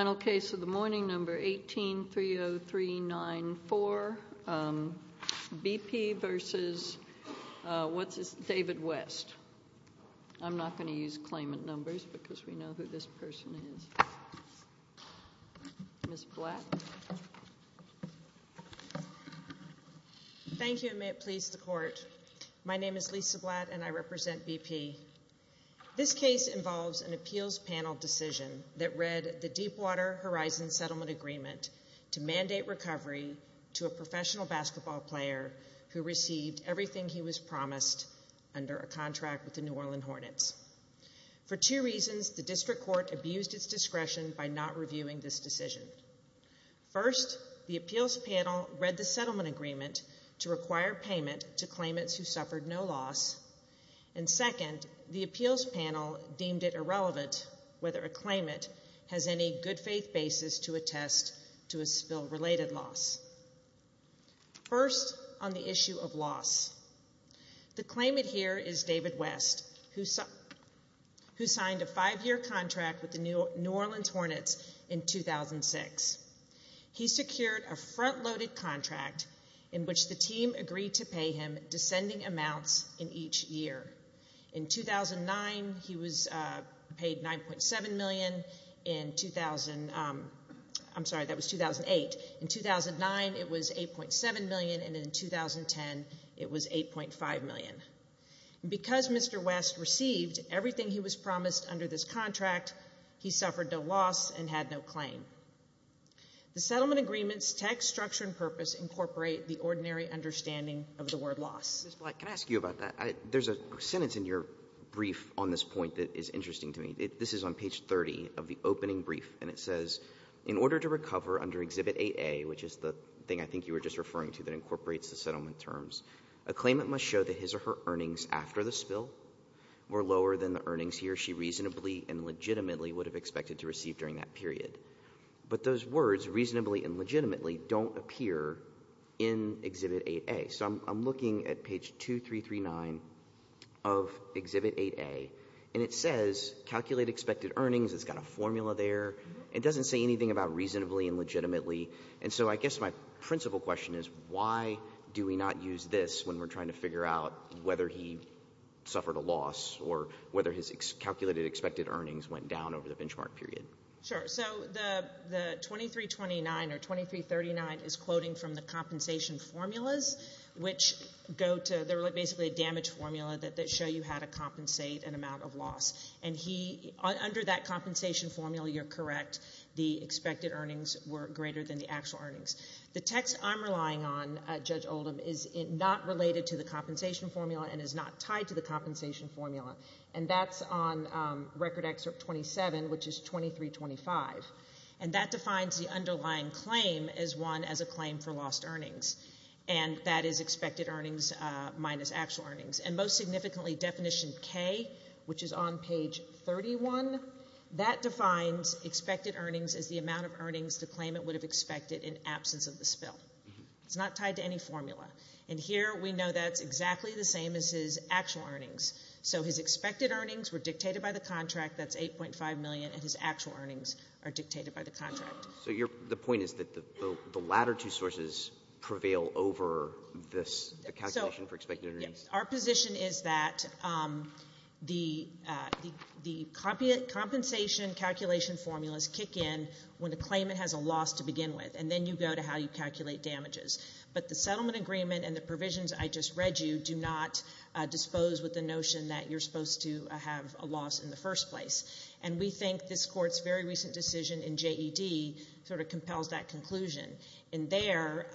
1830394, B.P. v. David West, Inc. Thank you, and may it please the Court. My name is Lisa Blatt, and I represent B.P. This case involves an appeals panel decision that read the Deepwater Horizon Settlement Agreement to mandate recovery to a professional basketball player who received everything he was promised under a contract with the New Orleans Hornets. For two reasons, the District Court abused its discretion by not reviewing this decision. First, the appeals panel read the settlement agreement to require payment to claimants who suffered no loss, and second, the appeals panel deemed it irrelevant whether a claimant has any good-faith basis to attest to a spill-related loss. First, on the issue of loss, the claimant here is David West, who signed a five-year contract with the New Orleans Hornets in 2006. He secured a front-loaded contract in which the team agreed to pay him descending amounts in each year. In 2009, it was $8.7 million, and in 2010, it was $8.5 million. Because Mr. West received everything he was promised under this contract, he suffered no loss and had no claim. The settlement agreement's text, structure, and purpose incorporate the ordinary understanding of the word loss. Mr. Black, can I ask you about that? There's a sentence in your brief on this point that is interesting to me. This is on page 30 of the opening brief, and it says, in order to recover under Exhibit 8A, which is the thing I think you were just referring to that incorporates the settlement terms, a claimant must show that his or her earnings after the spill were lower than the earnings he or she reasonably and legitimately would have expected to receive during that period. But those words, reasonably and legitimately, don't appear in Exhibit 8A. So I'm looking at page 2339 of Exhibit 8A, and it says, calculate expected earnings. It's got a formula there. It doesn't say anything about reasonably and legitimately. And so I guess my principal question is, why do we not use this when we're trying to figure out whether he suffered a loss or whether his calculated expected earnings went down over the benchmark period? Sure. So the 2329 or 2339 is quoting from the compensation formulas, which go to—they're basically a damage formula that show you how to compensate an amount of loss. And under that compensation formula, you're correct. The expected earnings were greater than the actual earnings. The text I'm relying on, Judge Oldham, is not related to the compensation formula and is not tied to the compensation formula. And that's on Record Excerpt 27, which is 2325. And that defines the underlying claim as one as a claim for lost earnings. And that is expected earnings minus actual earnings. And most significantly, Definition K, which is on page 31, that defines expected earnings as the amount of earnings the claimant would have expected in absence of the spill. It's not tied to any formula. And here we know that's exactly the same as his actual earnings. So his expected earnings were dictated by the contract. That's $8.5 million. And his actual earnings are dictated by the contract. So the point is that the latter two sources prevail over this calculation for expected earnings? Yes. Our position is that the compensation calculation formulas kick in when the claimant has a loss to begin with. And then you go to how you calculate damages. But the settlement agreement and the provisions I just read you do not dispose with the notion that you're supposed to have a loss in the first place. And we think this Court's very recent decision in JED sort of compels that conclusion. In there,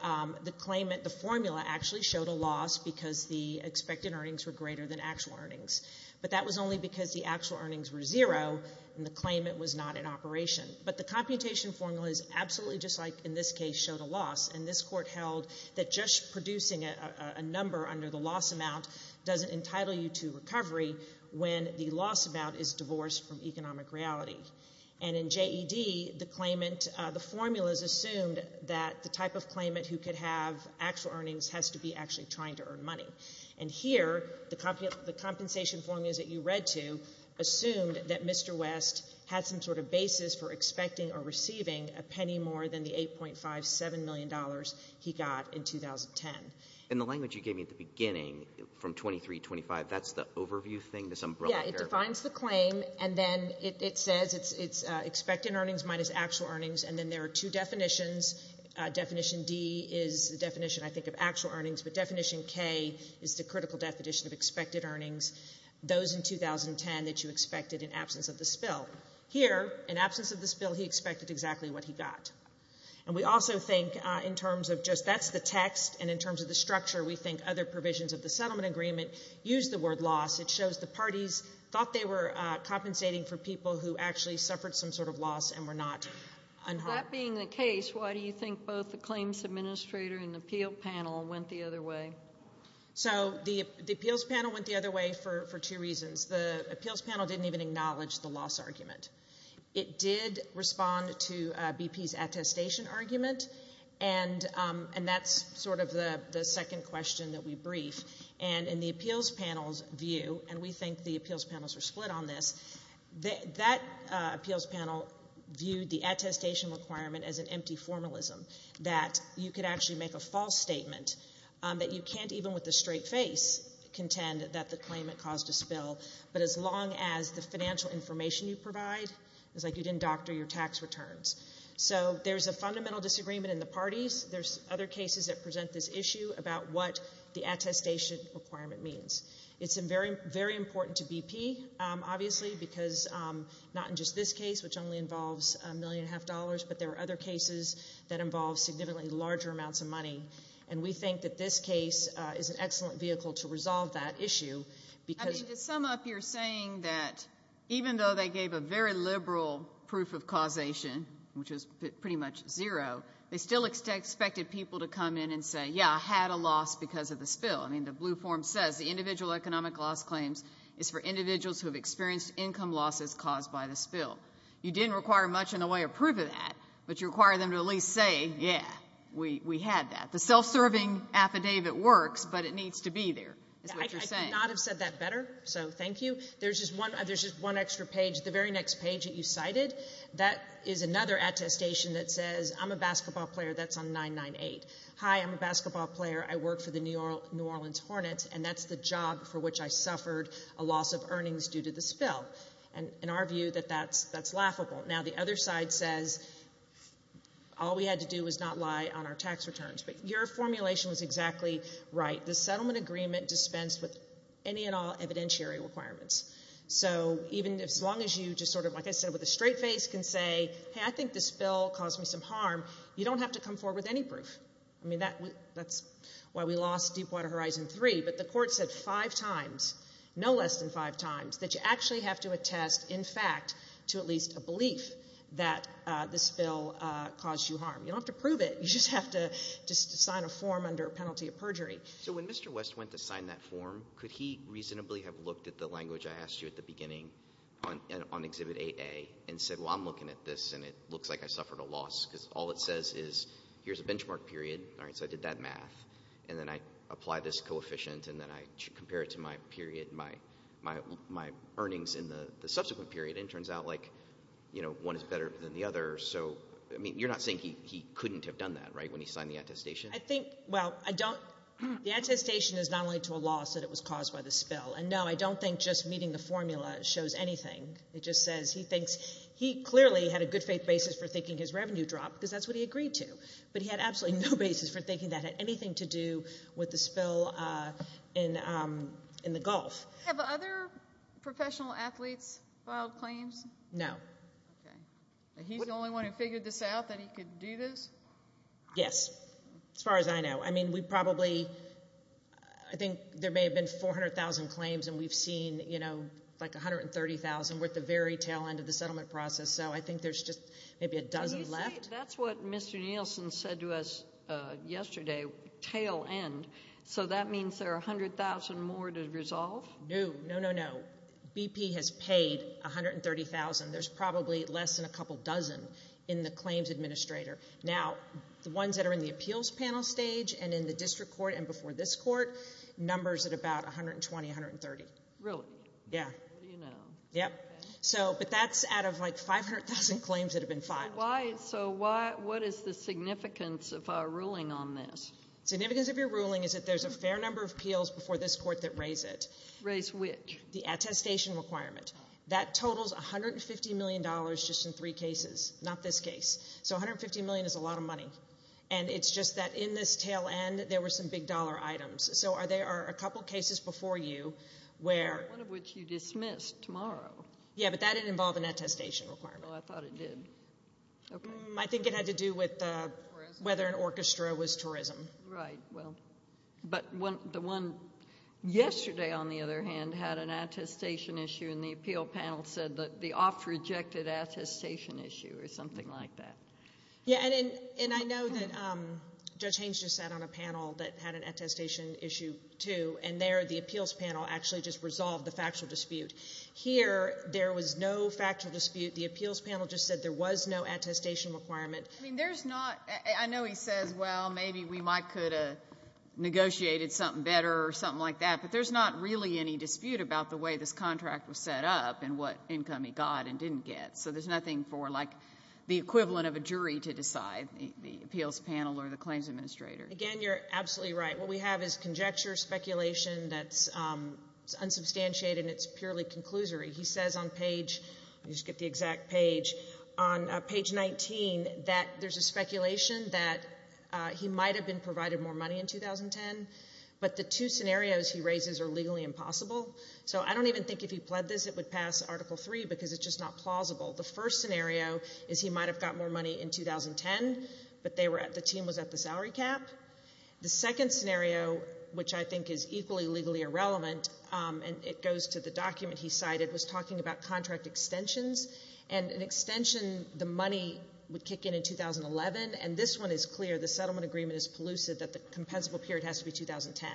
the claimant, the formula actually showed a loss because the expected earnings were greater than actual earnings. But that was only because the actual earnings were zero and the claimant was not in operation. But the computation formula is absolutely just like in this case showed a loss. And this Court held that just producing a number under the loss amount doesn't entitle you to recovery when the loss amount is divorced from economic reality. And in JED, the claimant, the formulas assumed that the type of claimant who could have actual earnings has to be actually trying to earn money. And here, the compensation formulas that you read to assumed that Mr. West had some sort of basis for expecting or receiving a penny more than the $8.57 million he got in 2010. In the language you gave me at the beginning from 2325, that's the overview thing, this umbrella paragraph? Yeah, it defines the claim. And then it says it's expected earnings minus actual earnings. And then there are two definitions. Definition D is the definition, I think, of actual earnings, but definition K is the critical definition of expected earnings, those in 2010 that you expected in absence of the spill. Here, in absence of the spill, he expected exactly what he got. And we also think in terms of just that's the text, and in terms of the structure, we think other provisions of the settlement agreement use the word loss. It shows the parties thought they were compensating for people who actually suffered some sort of loss and were not unharmed. That being the case, why do you think both the claims administrator and the appeal panel went the other way? So the appeals panel went the other way for two reasons. The appeals panel didn't even acknowledge the loss argument. It did respond to BP's attestation argument, and that's sort of the second question that we briefed. And in the appeals panel's view, and we think the appeals panels are split on this, that appeals panel viewed the attestation requirement as an empty formalism, that you could actually make a false statement, that you can't even with a straight face contend that the claimant caused a spill. But as long as the financial information you provide, it's like you didn't doctor your tax returns. So there's a fundamental disagreement in the parties. There's other cases that present this issue about what the attestation requirement means. It's very important to BP, obviously, because not in just this case, which only involves a million and a half dollars, but there are other cases that involve significantly larger amounts of money. And we think that this case is an excellent vehicle to resolve that issue because I mean, to sum up, you're saying that even though they gave a very liberal proof of causation, which is pretty much zero, they still expected people to come in and say, yeah, I had a loss because of the spill. I mean, the blue form says the individual economic loss claims is for individuals who have experienced income losses caused by the spill. You didn't require much in the way of proof of that, but you require them to at least say, yeah, we had that. The self-serving affidavit works, but it needs to be there, is what you're saying. Yeah, I could not have said that better. So thank you. There's just one extra page. The very next page that you cited, that is another attestation that says, I'm a basketball player. That's on 998. Hi, I'm a basketball player. I work for the New Orleans Hornets, and that's the job for which I suffered a loss of earnings due to the spill. And in our view, that's laughable. Now, the other side says, all we had to do was not lie on our tax returns. But your formulation was exactly right. The settlement agreement dispensed with any and all evidentiary requirements. So even as long as you just sort of, like I said, with a straight face can say, hey, I think the spill caused me some harm. You don't have to come forward with any proof. I mean, that's why we lost Deepwater Horizon 3. But the court said five times, no less than five times, that you actually have to attest, in fact, to at least a belief that the spill caused you harm. You don't have to prove it. You just have to sign a form under a penalty of perjury. So when Mr. West went to sign that form, could he reasonably have looked at the language I asked you at the beginning on Exhibit 8A and said, well, I'm looking at this, and it looks like I suffered a loss, because all it says is, here's a benchmark period. All right, so I did that math, and then I apply this coefficient, and then I compare it to my earnings in the subsequent period, and it turns out, like, you know, one is better than the other. So, I mean, you're not saying he couldn't have done that, right, when he signed the attestation? I think, well, I don't, the attestation is not only to a loss that it was caused by the spill. And no, I don't think just meeting the formula shows anything. It just says, he thinks, he clearly had a good faith basis for thinking his revenue dropped, because that's what he agreed to, but he had absolutely no basis for thinking that had anything to do with the spill in the Gulf. Have other professional athletes filed claims? No. Okay. And he's the only one who figured this out, that he could do this? Yes, as far as I know. I mean, we probably, I think there may have been 400,000 claims, and we've seen, you know, like 130,000, we're at the very tail end of the settlement process, so I think there's just maybe a dozen left. Right. That's what Mr. Nielsen said to us yesterday, tail end. So that means there are 100,000 more to resolve? No. No, no, no. BP has paid 130,000. There's probably less than a couple dozen in the claims administrator. Now, the ones that are in the appeals panel stage and in the district court and before this court, numbers at about 120, 130. Really? Yeah. What do you know? Yep. So, but that's out of like 500,000 claims that have been filed. Why, so why, what is the significance of our ruling on this? Significance of your ruling is that there's a fair number of appeals before this court that raise it. Raise which? The attestation requirement. That totals $150 million just in three cases, not this case. So $150 million is a lot of money. And it's just that in this tail end, there were some big dollar items. So there are a couple cases before you where... One of which you dismissed tomorrow. Yeah, but that didn't involve an attestation requirement. Well, I thought it did. Okay. I think it had to do with whether an orchestra was tourism. Right. Well, but the one yesterday, on the other hand, had an attestation issue and the appeal panel said that the off rejected attestation issue or something like that. Yeah. And I know that Judge Haynes just said on a panel that had an attestation issue too, and there the appeals panel actually just resolved the factual dispute. Here, there was no factual dispute. The appeals panel just said there was no attestation requirement. I mean, there's not... I know he says, well, maybe we might could have negotiated something better or something like that, but there's not really any dispute about the way this contract was set up and what income he got and didn't get. So there's nothing for like the equivalent of a jury to decide, the appeals panel or the claims administrator. Again, you're absolutely right. What we have is conjecture, speculation that's unsubstantiated and it's purely conclusory. He says on page, let me just get the exact page, on page 19 that there's a speculation that he might have been provided more money in 2010, but the two scenarios he raises are legally impossible. So I don't even think if he pled this, it would pass article three because it's just not plausible. The first scenario is he might have got more money in 2010, but the team was at the salary cap. The second scenario, which I think is equally legally irrelevant, and it goes to the document he cited, was talking about contract extensions, and an extension, the money would kick in in 2011, and this one is clear. The settlement agreement is pollutive, that the compensable period has to be 2010.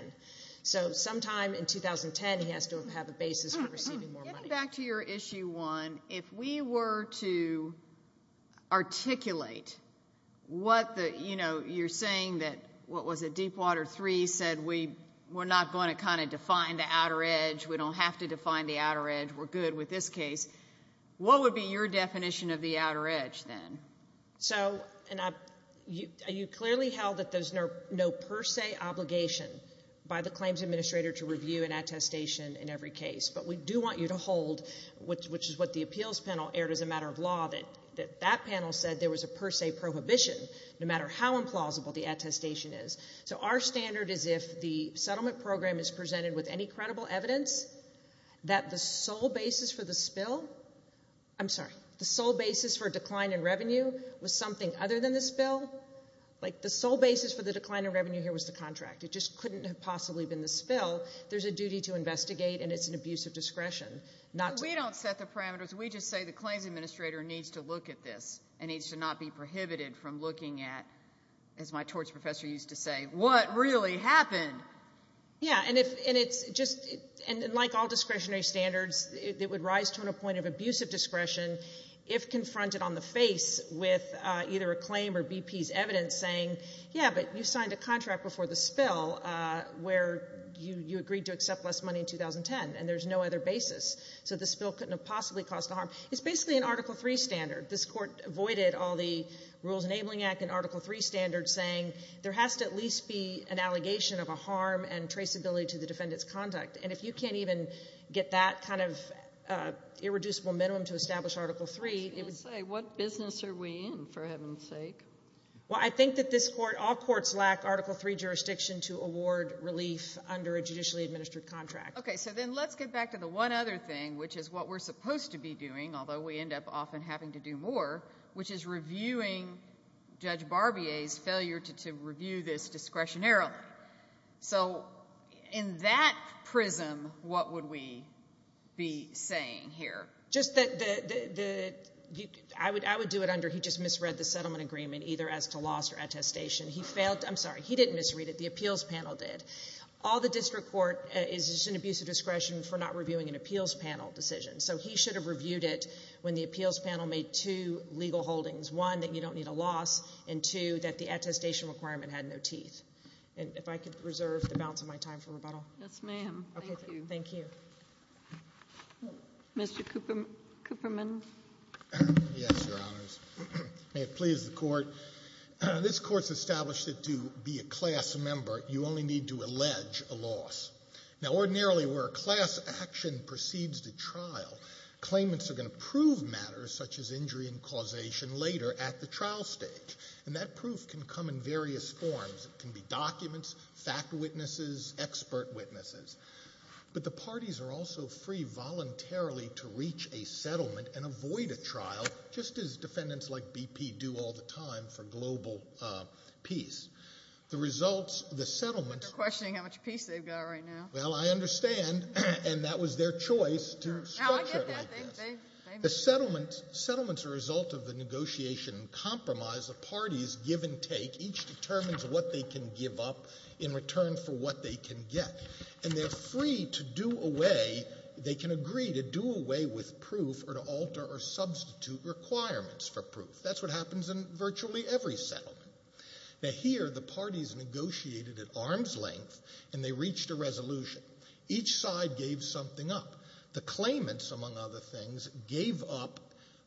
So sometime in 2010, he has to have a basis for receiving more money. Getting back to your issue one, if we were to articulate what the, you know, you're saying that what was it, deepwater three said we're not going to kind of define the outer edge, we don't have to define the outer edge, we're good with this case, what would be your definition of the outer edge then? So, and you clearly held that there's no per se obligation by the claims administrator to review an attestation in every case, but we do want you to hold, which is what the appeals panel aired as a matter of law, that that panel said there was a per se prohibition no matter how implausible the attestation is. So our standard is if the settlement program is presented with any credible evidence that the sole basis for the spill, I'm sorry, the sole basis for decline in revenue was something other than the spill, like the sole basis for the decline in revenue here was the contract. It just couldn't have possibly been the spill. There's a duty to investigate, and it's an abuse of discretion not to. We don't set the parameters, we just say the claims administrator needs to look at this and needs to not be prohibited from looking at, as my torts professor used to say, what really happened. Yeah, and if, and it's just, and like all discretionary standards, it would rise to a point of abusive discretion if confronted on the face with either a claim or BP's evidence saying yeah, but you signed a contract before the spill where you agreed to accept less money in 2010, and there's no other basis. So the spill couldn't have possibly caused harm. It's basically an Article III standard. This court avoided all the Rules Enabling Act and Article III standards saying there has to at least be an allegation of a harm and traceability to the defendant's conduct. And if you can't even get that kind of irreducible minimum to establish Article III, it would say what business are we in, for heaven's sake? Well, I think that this court, all courts lack Article III jurisdiction to award relief under a judicially administered contract. Okay, so then let's get back to the one other thing, which is what we're supposed to be doing more, which is reviewing Judge Barbier's failure to review this discretionarily. So in that prism, what would we be saying here? Just that the, I would do it under he just misread the settlement agreement, either as to loss or attestation. He failed, I'm sorry, he didn't misread it, the appeals panel did. All the district court is just an abuse of discretion for not reviewing an appeals panel decision. So he should have reviewed it when the appeals panel made two legal holdings, one, that you don't need a loss, and two, that the attestation requirement had no teeth. And if I could reserve the balance of my time for rebuttal. Yes, ma'am. Thank you. Thank you. Mr. Cooperman. Yes, Your Honors. May it please the Court. I've got a question. There's a lot of talk about the trial process. Now, ordinarily, where a class action proceeds the trial, claimants are going to prove matters such as injury and causation later at the trial stage. And that proof can come in various forms. It can be documents, fact witnesses, expert witnesses. But the parties are also free voluntarily to reach a settlement and avoid a trial, just as defendants like BP do all the time for global peace. The results, the settlement- You're questioning how much peace they've got right now. Well, I understand. And that was their choice to structure it like this. The settlements are a result of the negotiation and compromise the parties give and take. Each determines what they can give up in return for what they can get. And they're free to do away, they can agree to do away with proof or to alter or substitute requirements for proof. That's what happens in virtually every settlement. Now, here, the parties negotiated at arm's length and they reached a resolution. Each side gave something up. The claimants, among other things, gave up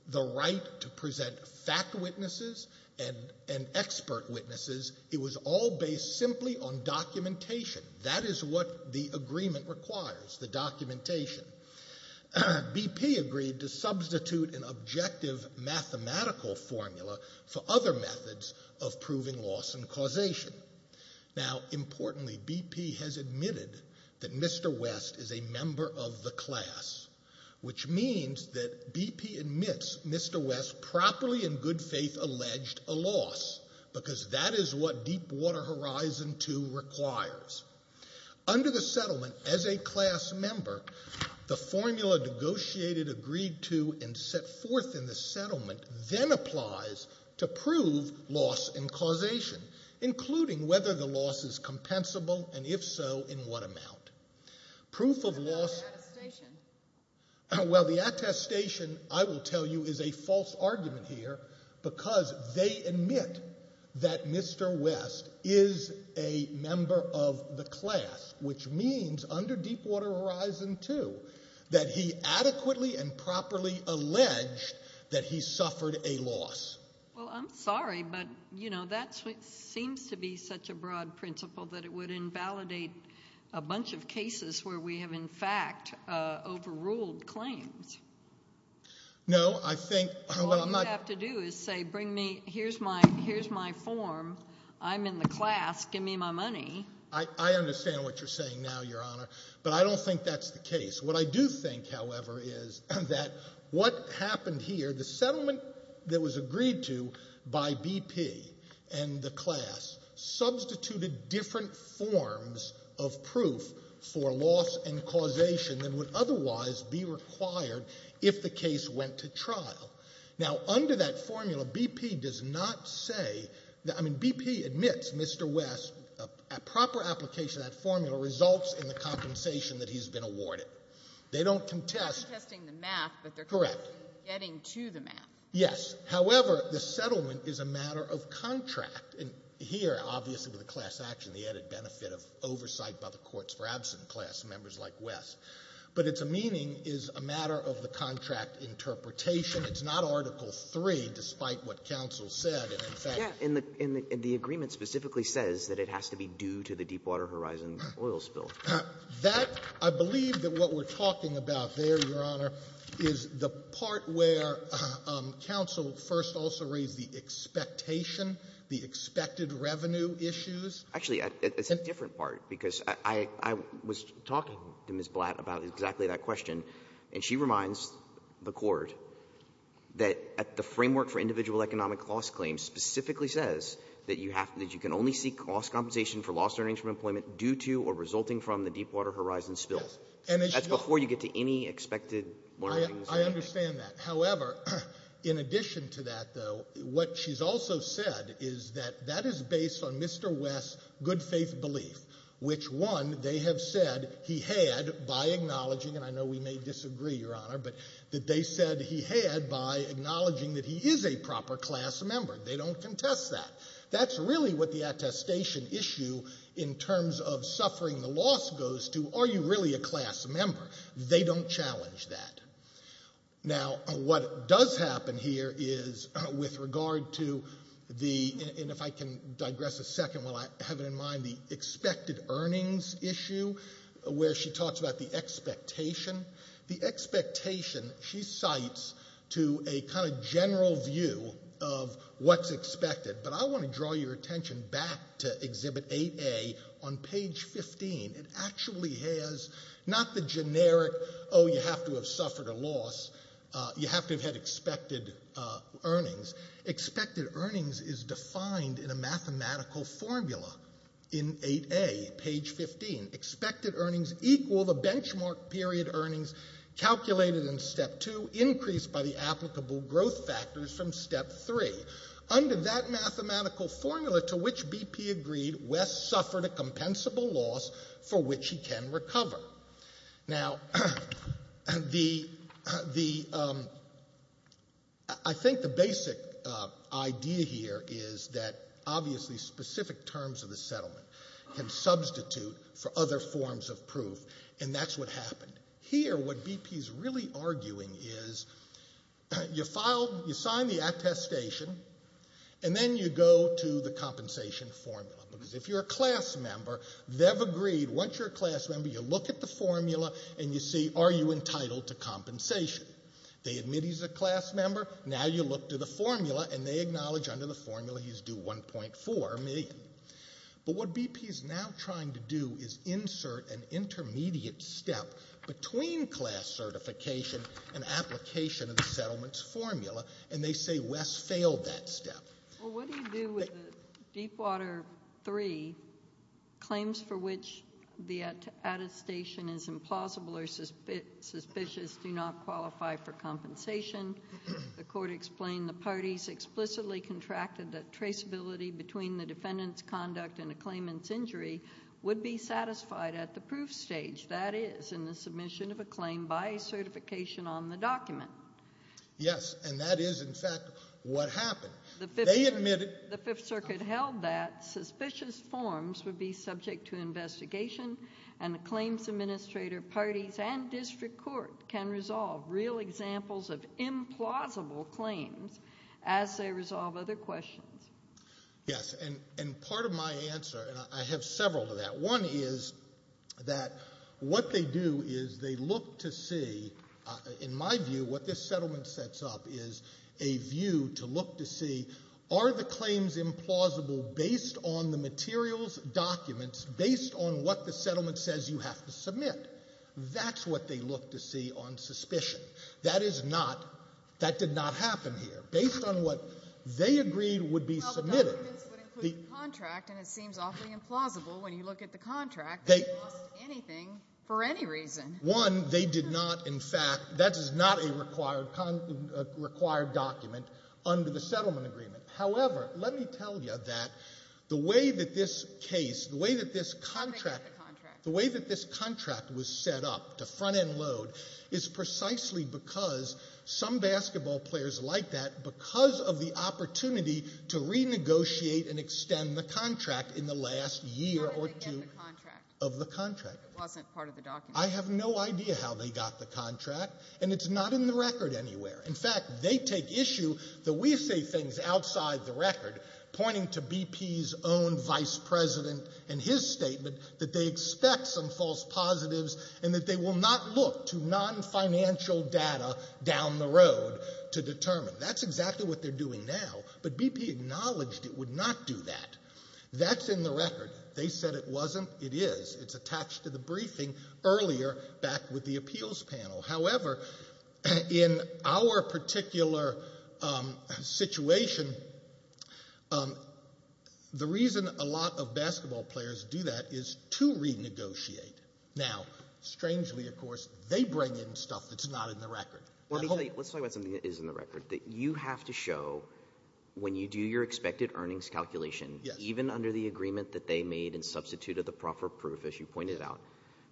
the right to present fact witnesses and expert witnesses. It was all based simply on documentation. That is what the agreement requires, the documentation. BP agreed to substitute an objective mathematical formula for other methods of proving loss and causation. Now, importantly, BP has admitted that Mr. West is a member of the class, which means that BP admits Mr. West properly and in good faith alleged a loss, because that is what Deepwater Horizon 2 requires. Under the settlement, as a class member, the formula negotiated, agreed to, and set forth in the settlement then applies to prove loss and causation, including whether the loss is compensable and, if so, in what amount. Proof of loss... And now the attestation. Well, the attestation, I will tell you, is a false argument here, because they admit that Mr. West is a member of the class, which means, under Deepwater Horizon 2, that he adequately and properly alleged that he suffered a loss. Well, I'm sorry, but, you know, that seems to be such a broad principle that it would invalidate a bunch of cases where we have, in fact, overruled claims. No, I think... All you have to do is say, bring me, here's my form, I'm in the class, give me my money. I understand what you're saying now, Your Honor, but I don't think that's the case. What I do think, however, is that what happened here, the settlement that was agreed to by BP and the class substituted different forms of proof for loss and causation than would otherwise be required if the case went to trial. Now, under that formula, BP does not say, I mean, BP admits Mr. West, a proper application of that formula results in the compensation that he's been awarded. They don't contest... They're not contesting the math, but they're contesting getting to the math. Correct. Yes. However, the settlement is a matter of contract, and here, obviously, with a class action, the added benefit of oversight by the Courts for Absent Class, members like West. But its meaning is a matter of the contract interpretation. It's not Article III, despite what counsel said, and in fact... Yes. And the agreement specifically says that it has to be due to the Deepwater Horizon oil spill. That, I believe that what we're talking about there, Your Honor, is the part where counsel first also raised the expectation, the expected revenue issues. Actually, it's a different part, because I was talking to Ms. Blatt about exactly that question, and she reminds the Court that the Framework for Individual Economic Loss Claims specifically says that you can only seek loss compensation for lost earnings from employment due to or resulting from the Deepwater Horizon spill. Yes. And as you know... That's before you get to any expected earnings. I understand that. However, in addition to that, though, what she's also said is that that is based on Mr. West's good faith belief, which, one, they have said he had by acknowledging, and I know we may disagree, Your Honor, but that they said he had by acknowledging that he is a proper class member. They don't contest that. That's really what the attestation issue in terms of suffering the loss goes to. Are you really a class member? They don't challenge that. Now, what does happen here is, with regard to the, and if I can digress a second while I have it in mind, the expected earnings issue, where she talks about the expectation. The expectation, she cites to a kind of general view of what's expected, but I want to draw your attention back to Exhibit 8A on page 15. It actually has not the generic, oh, you have to have suffered a loss. You have to have had expected earnings. Expected earnings is defined in a mathematical formula in 8A, page 15. Expected earnings equal the benchmark period earnings calculated in Step 2, increased by the applicable growth factors from Step 3. Under that mathematical formula to which BP agreed, Wes suffered a compensable loss for which he can recover. Now, the, I think the basic idea here is that obviously specific terms of the settlement can substitute for other forms of proof, and that's what happened. Here, what BP's really arguing is, you file, you sign the attestation, and then you go to the compensation formula, because if you're a class member, they've agreed, once you're a class member, you look at the formula, and you see, are you entitled to compensation? They admit he's a class member, now you look to the formula, and they acknowledge under the formula he's due 1.4 million. But what BP is now trying to do is insert an intermediate step between class certification and application of the settlement's formula, and they say Wes failed that step. Well, what do you do with the Deepwater 3 claims for which the attestation is implausible or suspicious do not qualify for compensation? The court explained the parties explicitly contracted that traceability between the defendant's conduct and a claimant's injury would be satisfied at the proof stage, that is, in the submission of a claim by certification on the document. Yes, and that is, in fact, what happened. The Fifth Circuit held that suspicious forms would be subject to investigation, and the claims as they resolve other questions. Yes, and part of my answer, and I have several to that, one is that what they do is they look to see, in my view, what this settlement sets up is a view to look to see, are the claims implausible based on the materials, documents, based on what the settlement says you have to submit? That's what they look to see on suspicion. That is not, that did not happen here. Based on what they agreed would be submitted. Well, the documents would include the contract, and it seems awfully implausible when you look at the contract. They lost anything for any reason. One, they did not, in fact, that is not a required document under the settlement agreement. However, let me tell you that the way that this case, the way that this contract, the way that this contract was set up to front end load is precisely because some basketball players like that, because of the opportunity to renegotiate and extend the contract in the last year or two of the contract. I have no idea how they got the contract, and it's not in the record anywhere. In fact, they take issue that we say things outside the record, pointing to BP's own vice president and his statement that they expect some false positives and that they will not look to non-financial data down the road to determine. That's exactly what they're doing now, but BP acknowledged it would not do that. That's in the record. They said it wasn't. It is. It's attached to the briefing earlier back with the appeals panel. However, in our particular situation, the reason a lot of basketball players do that is to renegotiate. Now, strangely, of course, they bring in stuff that's not in the record. Let me tell you, let's talk about something that is in the record, that you have to show when you do your expected earnings calculation, even under the agreement that they made in substitute of the proper proof, as you pointed out,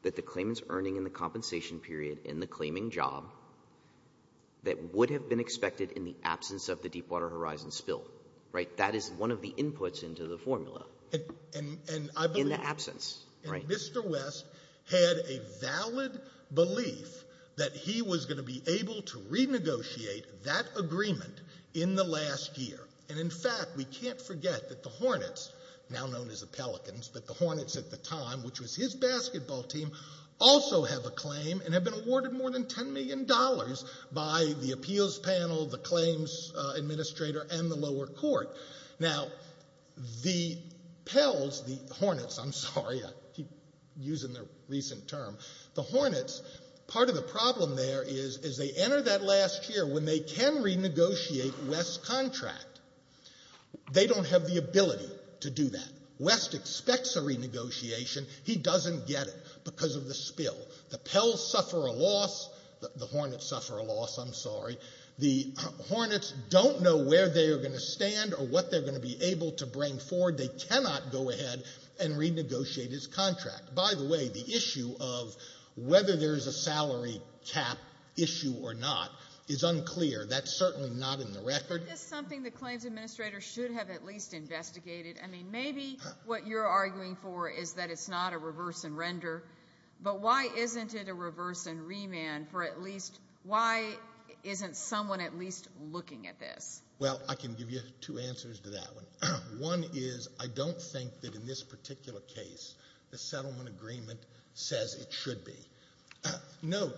that the claimant's earning in the compensation period in the claiming job that would have been expected in the absence of the Deepwater Horizon spill. Right? That is one of the inputs into the formula. And I believe— In the absence. Right. And Mr. West had a valid belief that he was going to be able to renegotiate that agreement in the last year. And in fact, we can't forget that the Hornets, now known as the Pelicans, but the Hornets at the time, which was his basketball team, also have a claim and have been awarded more than $10 million by the appeals panel, the claims administrator, and the lower court. Now, the Pels—the Hornets, I'm sorry, I keep using their recent term—the Hornets, part of the problem there is, as they enter that last year, when they can renegotiate West's contract, they don't have the ability to do that. When West expects a renegotiation, he doesn't get it because of the spill. The Pels suffer a loss. The Hornets suffer a loss, I'm sorry. The Hornets don't know where they are going to stand or what they're going to be able to bring forward. They cannot go ahead and renegotiate his contract. By the way, the issue of whether there's a salary cap issue or not is unclear. That's certainly not in the record. Isn't this something the claims administrator should have at least investigated? I mean, maybe what you're arguing for is that it's not a reverse and render, but why isn't it a reverse and remand for at least—why isn't someone at least looking at this? Well, I can give you two answers to that one. One is, I don't think that in this particular case, the settlement agreement says it should be. No—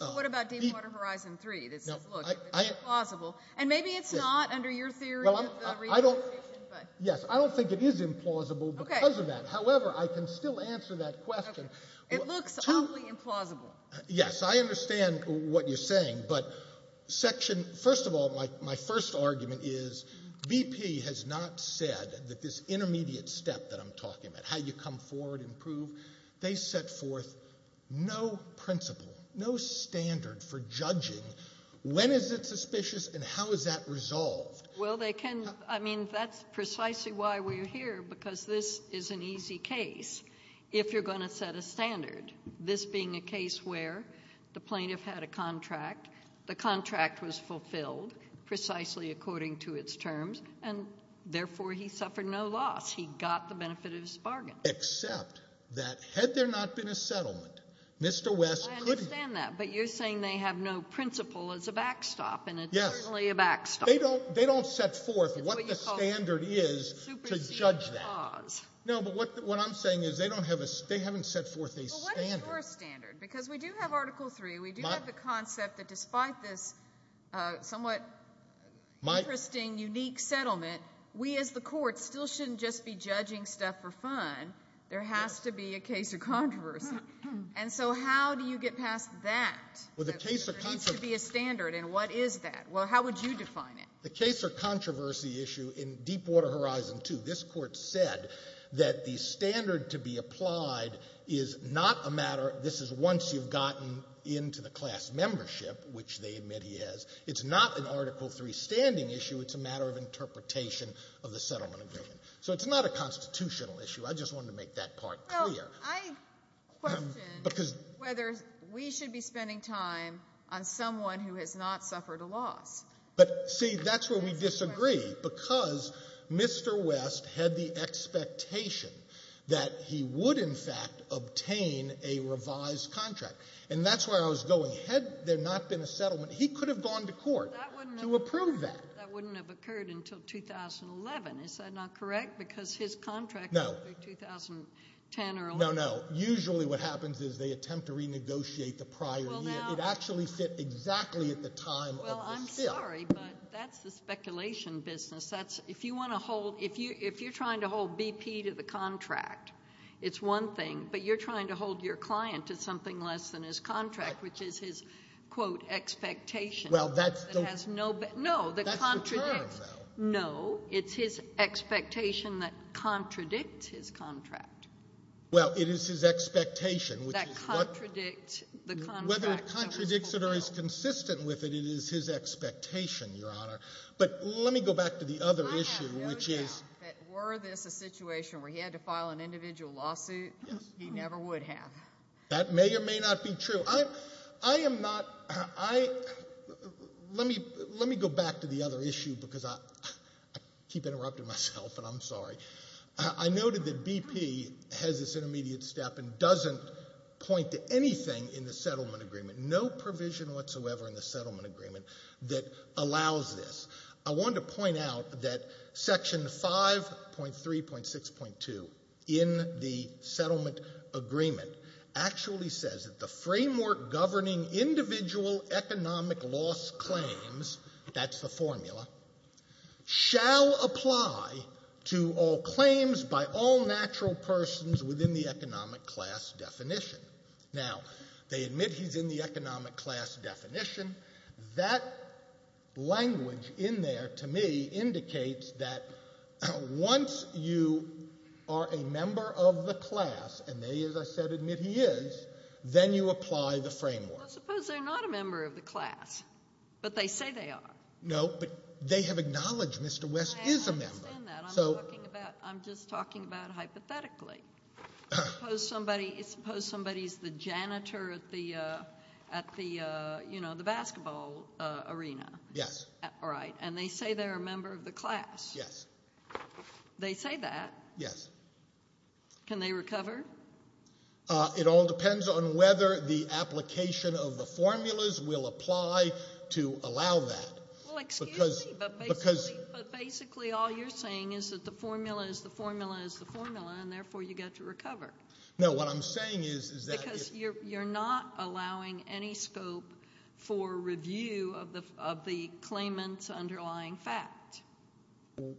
What about Deepwater Horizon 3 that says, look, it's plausible? And maybe it's not under your theory of the renegotiation, but— Yes. I don't think it is implausible because of that. Okay. However, I can still answer that question. Okay. It looks awfully implausible. Yes. I understand what you're saying, but section—first of all, my first argument is, BP has not said that this intermediate step that I'm talking about, how you come forward and prove, they set forth no principle, no standard for judging when is it suspicious and how is that resolved. Well, they can—I mean, that's precisely why we're here, because this is an easy case. If you're going to set a standard, this being a case where the plaintiff had a contract, the contract was fulfilled precisely according to its terms, and therefore he suffered no loss. He got the benefit of his bargain. Except that had there not been a settlement, Mr. West couldn't— I understand that, but you're saying they have no principle as a backstop, and it's certainly a backstop. They don't—they don't set forth what the standard is to judge that. No, but what I'm saying is they don't have a—they haven't set forth a standard. Well, what is your standard? Because we do have Article III. We do have the concept that despite this somewhat interesting, unique settlement, we as the court still shouldn't just be judging stuff for fun. There has to be a case of controversy. And so how do you get past that, that there needs to be a standard, and what is that? Well, how would you define it? The case of controversy issue in Deepwater Horizon 2, this Court said that the standard to be applied is not a matter—this is once you've gotten into the class membership, which they admit he has—it's not an Article III standing issue, it's a matter of interpretation of the settlement agreement. So it's not a constitutional issue. I just wanted to make that part clear. Well, I question whether we should be spending time on someone who has not suffered a loss. But, see, that's where we disagree, because Mr. West had the expectation that he would, in fact, obtain a revised contract. And that's where I was going. Had there not been a settlement, he could have gone to court to approve that. That wouldn't have occurred until 2011. Is that not correct? Because his contract would be 2010 or 11. No, no. Usually what happens is they attempt to renegotiate the prior year. It actually fit exactly at the time of the fill. Well, I'm sorry, but that's the speculation business. That's—if you want to hold—if you're trying to hold BP to the contract, it's one thing, but you're trying to hold your client to something less than his contract, which is his, quote, expectation. Well, that's— That has no—no, that contradicts— That's the term, though. No, it's his expectation that contradicts his contract. Well, it is his expectation, which is what— That contradicts the contract. Whether it contradicts it or is consistent with it, it is his expectation, Your Honor. But let me go back to the other issue, which is— I have no doubt that were this a situation where he had to file an individual lawsuit, he never would have. That may or may not be true. I am not—let me go back to the other issue because I keep interrupting myself, and I'm sorry. I noted that BP has this intermediate step and doesn't point to anything in the settlement agreement, no provision whatsoever in the settlement agreement that allows this. I wanted to point out that Section 5.3.6.2 in the settlement agreement actually says that the framework governing individual economic loss claims—that's the formula— claims by all natural persons within the economic class definition. Now, they admit he's in the economic class definition. That language in there, to me, indicates that once you are a member of the class, and they, as I said, admit he is, then you apply the framework. Well, suppose they're not a member of the class, but they say they are. No, but they have acknowledged Mr. West is a member. I don't understand that. I'm talking about—I'm just talking about hypothetically. Suppose somebody—suppose somebody's the janitor at the—at the, you know, the basketball arena. Yes. Right, and they say they're a member of the class. Yes. They say that. Yes. Can they recover? It all depends on whether the application of the formulas will apply to allow that. Well, excuse me, but basically— What you're saying is that the formula is the formula is the formula, and therefore you get to recover. No, what I'm saying is that— Because you're—you're not allowing any scope for review of the—of the claimant's underlying fact.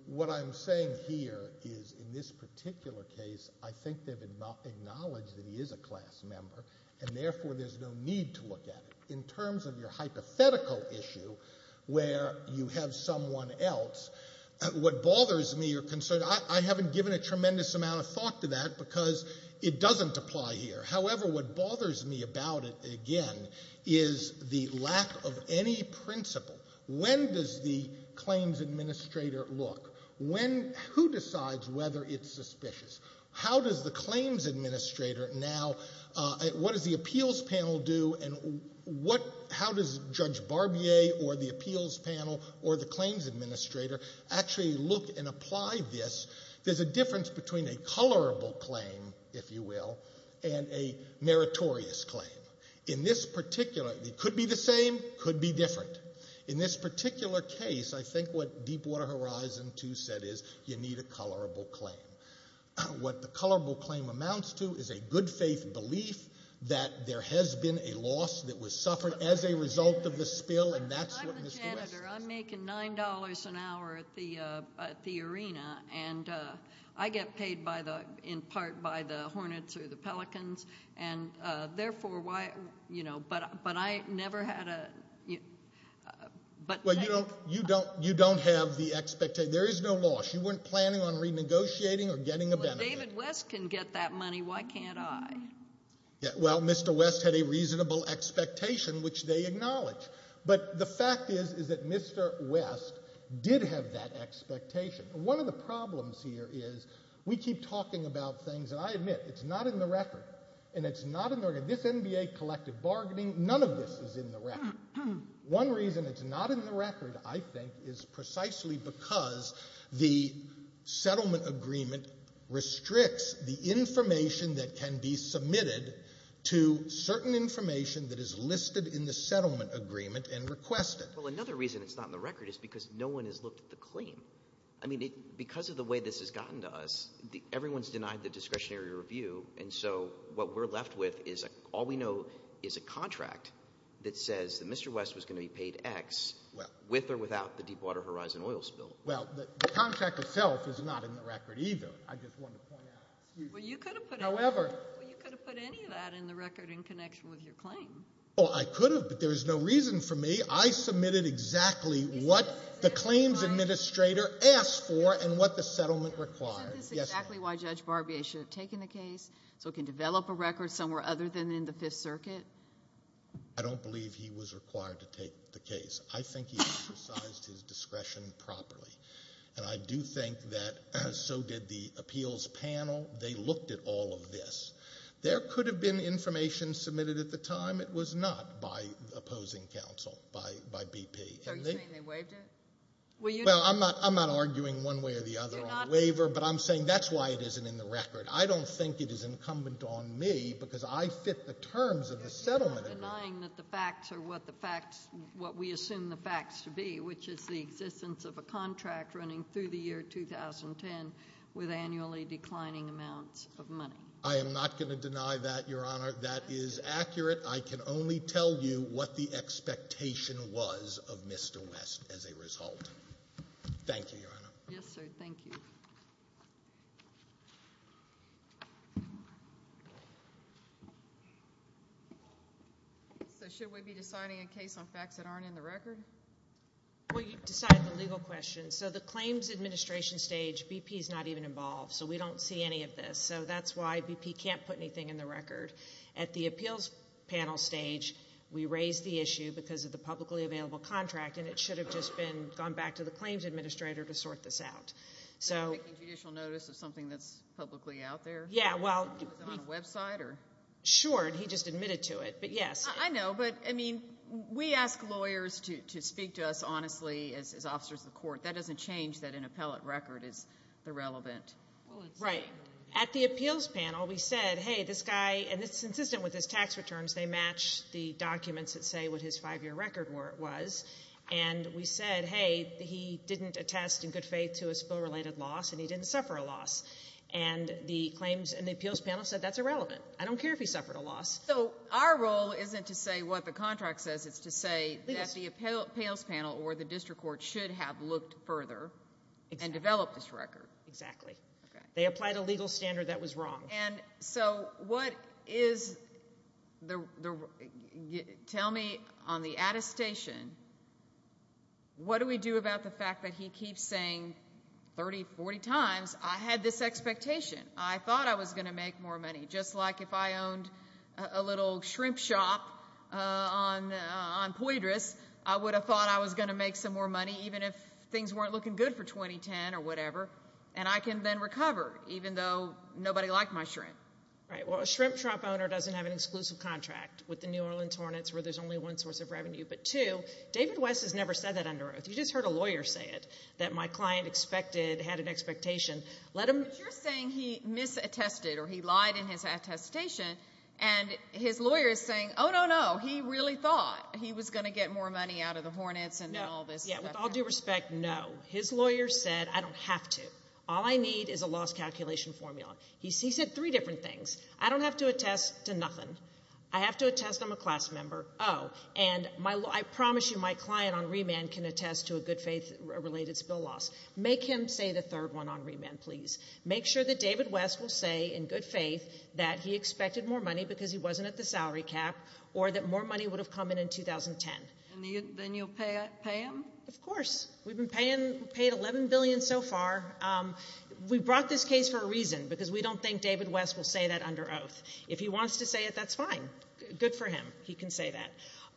What I'm saying here is, in this particular case, I think they've acknowledged that he is a class member, and therefore there's no need to look at it. In terms of your hypothetical issue, where you have someone else, what bothers me or concerns— I haven't given a tremendous amount of thought to that because it doesn't apply here. However, what bothers me about it, again, is the lack of any principle. When does the claims administrator look? When—who decides whether it's suspicious? How does the claims administrator now— How does Judge Barbier or the appeals panel or the claims administrator actually look and apply this? There's a difference between a colorable claim, if you will, and a meritorious claim. In this particular—it could be the same, could be different. In this particular case, I think what Deepwater Horizon 2 said is, you need a colorable claim. What the colorable claim amounts to is a good-faith belief that there has been a loss that was suffered as a result of the spill, and that's what Mr. West— I'm the janitor. I'm making $9 an hour at the arena, and I get paid in part by the Hornets or the Pelicans, and therefore why—but I never had a— Well, you don't have the expectation—there is no loss. You weren't planning on renegotiating or getting a benefit. Well, if David West can get that money, why can't I? Well, Mr. West had a reasonable expectation, which they acknowledge. But the fact is, is that Mr. West did have that expectation. One of the problems here is we keep talking about things, and I admit, it's not in the record, and it's not in the record—this NBA collective bargaining, none of this is in the record. One reason it's not in the record, I think, is precisely because the settlement agreement restricts the information that can be submitted to certain information that is listed in the settlement agreement and requested. Well, another reason it's not in the record is because no one has looked at the claim. I mean, because of the way this has gotten to us, everyone has denied the discretionary review, and so what we're left with is all we know is a contract that says that Mr. West was going to be paid X with or without the Deepwater Horizon oil spill. Well, the contract itself is not in the record either. I just wanted to point that out. Well, you could have put— However— Well, you could have put any of that in the record in connection with your claim. Well, I could have, but there was no reason for me. I submitted exactly what the claims administrator asked for and what the settlement required. Isn't this exactly why Judge Barbier should have taken the case, so it can develop a record somewhere other than in the Fifth Circuit? I don't believe he was required to take the case. I think he exercised his discretion properly, and I do think that so did the appeals panel. They looked at all of this. There could have been information submitted at the time. It was not by opposing counsel, by BP. Are you saying they waived it? Well, I'm not arguing one way or the other on waiver, but I'm saying that's why it isn't in the record. I don't think it is incumbent on me because I fit the terms of the settlement agreement. You're not denying that the facts are what the facts—what we assume the facts to be, which is the existence of a contract running through the year 2010 with annually declining amounts of money. I am not going to deny that, Your Honor. That is accurate. I can only tell you what the expectation was of Mr. West as a result. Thank you, Your Honor. Yes, sir. Thank you. So should we be deciding a case on facts that aren't in the record? Well, you decide the legal questions. So the claims administration stage, BP is not even involved, so we don't see any of this. So that's why BP can't put anything in the record. At the appeals panel stage, we raised the issue because of the publicly available contract, and it should have just been gone back to the claims administrator to sort this out. So you're making judicial notice of something that's publicly out there? Yeah, well— Was it on a website or—? Sure, and he just admitted to it, but yes. I know, but, I mean, we ask lawyers to speak to us honestly as officers of the court. That doesn't change that an appellate record is irrelevant. Right. At the appeals panel, we said, hey, this guy, and it's consistent with his tax returns. They match the documents that say what his five-year record was. And we said, hey, he didn't attest in good faith to a spill-related loss, and he didn't suffer a loss. And the claims and the appeals panel said that's irrelevant. I don't care if he suffered a loss. So our role isn't to say what the contract says. It's to say that the appeals panel or the district court should have looked further and developed this record. Exactly. They applied a legal standard that was wrong. And so what is the—tell me, on the attestation, what do we do about the fact that he keeps saying 30, 40 times, I had this expectation, I thought I was going to make more money, just like if I owned a little shrimp shop on Poitras, I would have thought I was going to make some more money even if things weren't looking good for 2010 or whatever, and I can then recover even though nobody liked my shrimp. Right. Well, a shrimp shop owner doesn't have an exclusive contract with the New Orleans Hornets where there's only one source of revenue. But, two, David West has never said that under oath. You just heard a lawyer say it, that my client expected—had an expectation. But you're saying he misattested or he lied in his attestation, and his lawyer is saying, oh, no, no, he really thought he was going to get more money out of the Hornets and all this stuff. Yeah, with all due respect, no. His lawyer said, I don't have to. All I need is a loss calculation formula. He said three different things. I don't have to attest to nothing. I have to attest I'm a class member. Oh, and I promise you my client on remand can attest to a good faith-related spill loss. Make him say the third one on remand, please. Make sure that David West will say in good faith that he expected more money because he wasn't at the salary cap or that more money would have come in in 2010. And then you'll pay him? Of course. We've been paying—paid $11 billion so far. We brought this case for a reason, because we don't think David West will say that under oath. If he wants to say it, that's fine. Good for him. He can say that.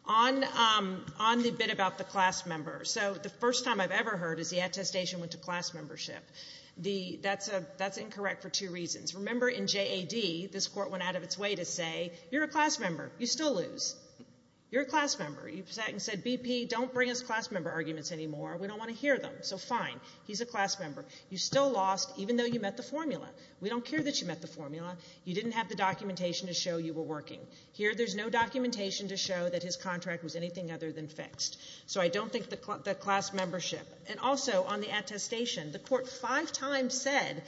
On the bit about the class member. So the first time I've ever heard is the attestation went to class membership. That's incorrect for two reasons. Remember in JAD, this court went out of its way to say, you're a class member. You still lose. You're a class member. You sat and said, BP, don't bring us class member arguments anymore. We don't want to hear them. So fine. He's a class member. You still lost even though you met the formula. We don't care that you met the formula. You didn't have the documentation to show you were working. Here there's no documentation to show that his contract was anything other than fixed. So I don't think the class membership. And also on the attestation, the court five times said,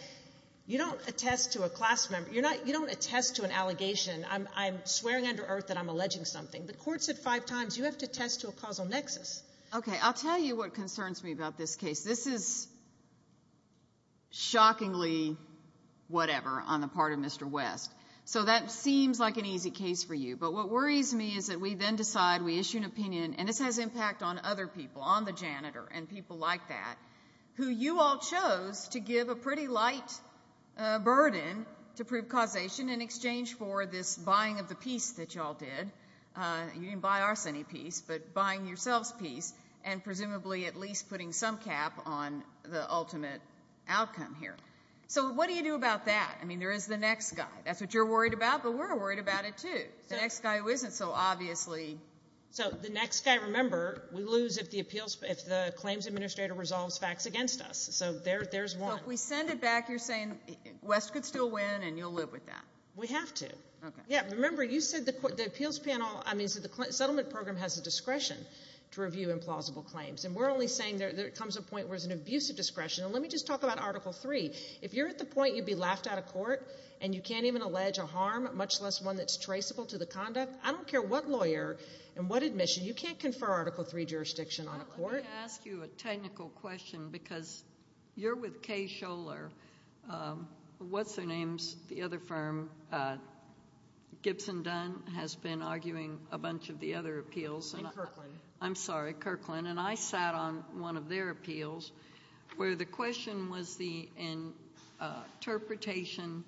you don't attest to a class member. You don't attest to an allegation. I'm swearing under earth that I'm alleging something. The court said five times, you have to attest to a causal nexus. Okay. I'll tell you what concerns me about this case. This is shockingly whatever on the part of Mr. West. So that seems like an easy case for you. But what worries me is that we then decide, we issue an opinion, and this has impact on other people, on the janitor and people like that, who you all chose to give a pretty light burden to prove causation in exchange for this buying of the piece that you all did. You didn't buy us any piece, but buying yourselves piece and presumably at least putting some cap on the ultimate outcome here. So what do you do about that? I mean, there is the next guy. That's what you're worried about, but we're worried about it too. The next guy who isn't so obviously. So the next guy, remember, we lose if the claims administrator resolves facts against us. So there's one. So if we send it back, you're saying West could still win and you'll live with that? We have to. Remember, you said the settlement program has the discretion to review implausible claims, and we're only saying there comes a point where there's an abuse of discretion. And let me just talk about Article III. If you're at the point you'd be laughed out of court and you can't even allege a harm, much less one that's traceable to the conduct, I don't care what lawyer and what admission, you can't confer Article III jurisdiction on a court. Let me ask you a technical question because you're with Kay Scholar. What's their names, the other firm? Gibson Dunn has been arguing a bunch of the other appeals. And Kirkland. I'm sorry, Kirkland. And I sat on one of their appeals where the question was the interpretation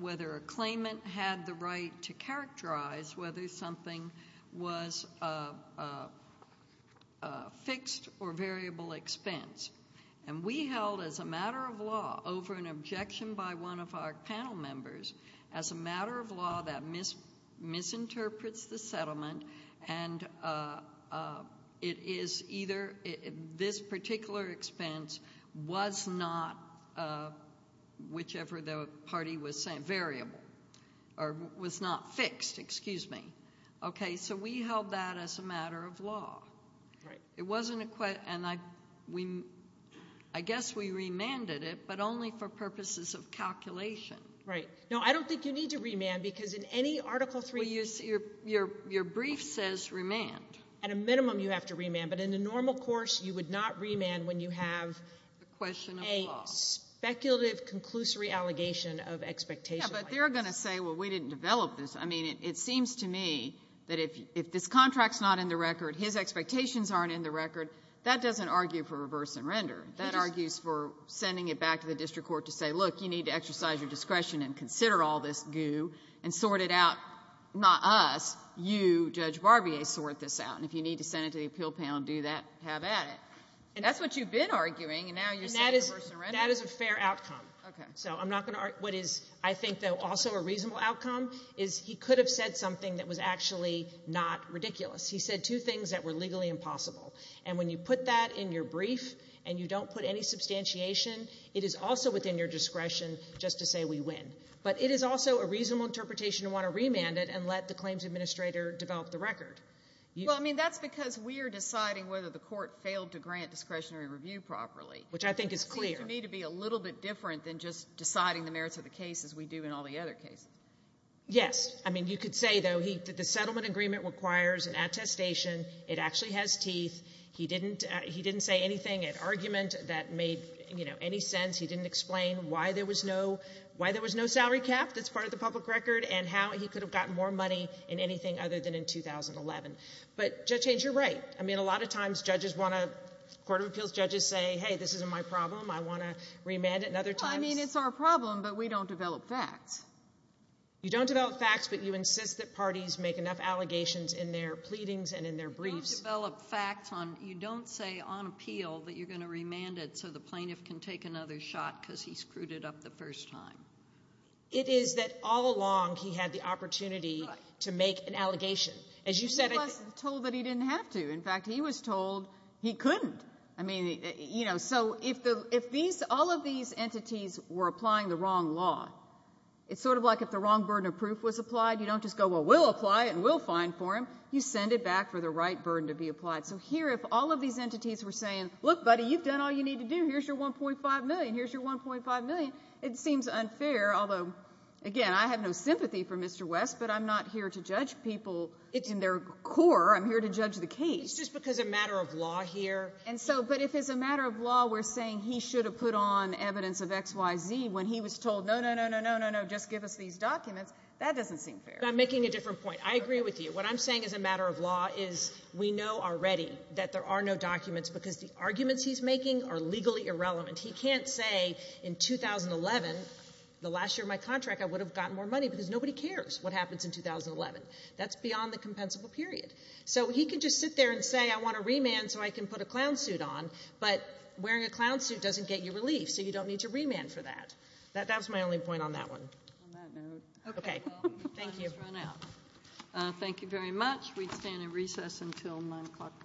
whether a claimant had the right to characterize whether something was a fixed or variable expense. And we held, as a matter of law, over an objection by one of our panel members, as a matter of law that misinterprets the settlement, and it is either this particular expense was not, whichever the party was saying, variable, or was not fixed. Excuse me. Okay, so we held that as a matter of law. It wasn't a question, and I guess we remanded it, but only for purposes of calculation. Right. No, I don't think you need to remand because in any Article III case. Well, your brief says remand. At a minimum, you have to remand. But in a normal course, you would not remand when you have a speculative conclusory allegation of expectation. Yeah, but they're going to say, well, we didn't develop this. I mean, it seems to me that if this contract's not in the record, his expectations aren't in the record, that doesn't argue for reverse and render. That argues for sending it back to the district court to say, look, you need to exercise your discretion and consider all this goo and sort it out. Not us. You, Judge Barbier, sort this out, and if you need to send it to the appeal panel and do that, have at it. That's what you've been arguing, and now you're saying reverse and render. That is a fair outcome. Okay. So I'm not going to argue. What is, I think, though, also a reasonable outcome is he could have said something that was actually not ridiculous. He said two things that were legally impossible, and when you put that in your brief and you don't put any substantiation, it is also within your discretion just to say we win. But it is also a reasonable interpretation to want to remand it and let the claims administrator develop the record. Well, I mean, that's because we are deciding whether the court failed to grant discretionary review properly. Which I think is clear. That seems to me to be a little bit different than just deciding the merits of the case as we do in all the other cases. Yes. I mean, you could say, though, the settlement agreement requires an attestation. It actually has teeth. He didn't say anything, an argument that made, you know, any sense. He didn't explain why there was no salary cap that's part of the public record and how he could have gotten more money in anything other than in 2011. But, Judge Haynes, you're right. I mean, a lot of times judges want to, court of appeals judges say, hey, this isn't my problem. I want to remand it. Well, I mean, it's our problem, but we don't develop facts. You don't develop facts, but you insist that parties make enough allegations in their pleadings and in their briefs. You don't say on appeal that you're going to remand it so the plaintiff can take another shot because he screwed it up the first time. It is that all along he had the opportunity to make an allegation. He wasn't told that he didn't have to. In fact, he was told he couldn't. I mean, you know, so if all of these entities were applying the wrong law, it's sort of like if the wrong burden of proof was applied, you don't just go, well, we'll apply it and we'll find for him. You send it back for the right burden to be applied. So here if all of these entities were saying, look, buddy, you've done all you need to do. Here's your $1.5 million. Here's your $1.5 million. It seems unfair, although, again, I have no sympathy for Mr. West, but I'm not here to judge people in their core. I'm here to judge the case. It's just because of a matter of law here. But if it's a matter of law we're saying he should have put on evidence of XYZ when he was told, no, no, no, no, no, no, no, just give us these documents, that doesn't seem fair. I'm making a different point. I agree with you. What I'm saying as a matter of law is we know already that there are no documents because the arguments he's making are legally irrelevant. He can't say in 2011, the last year of my contract, I would have gotten more money because nobody cares what happens in 2011. That's beyond the compensable period. So he can just sit there and say I want to remand so I can put a clown suit on, but wearing a clown suit doesn't get you relief, so you don't need to remand for that. That was my only point on that one. On that note. Okay. Thank you. Time has run out. Thank you very much. We stand in recess until 9 o'clock.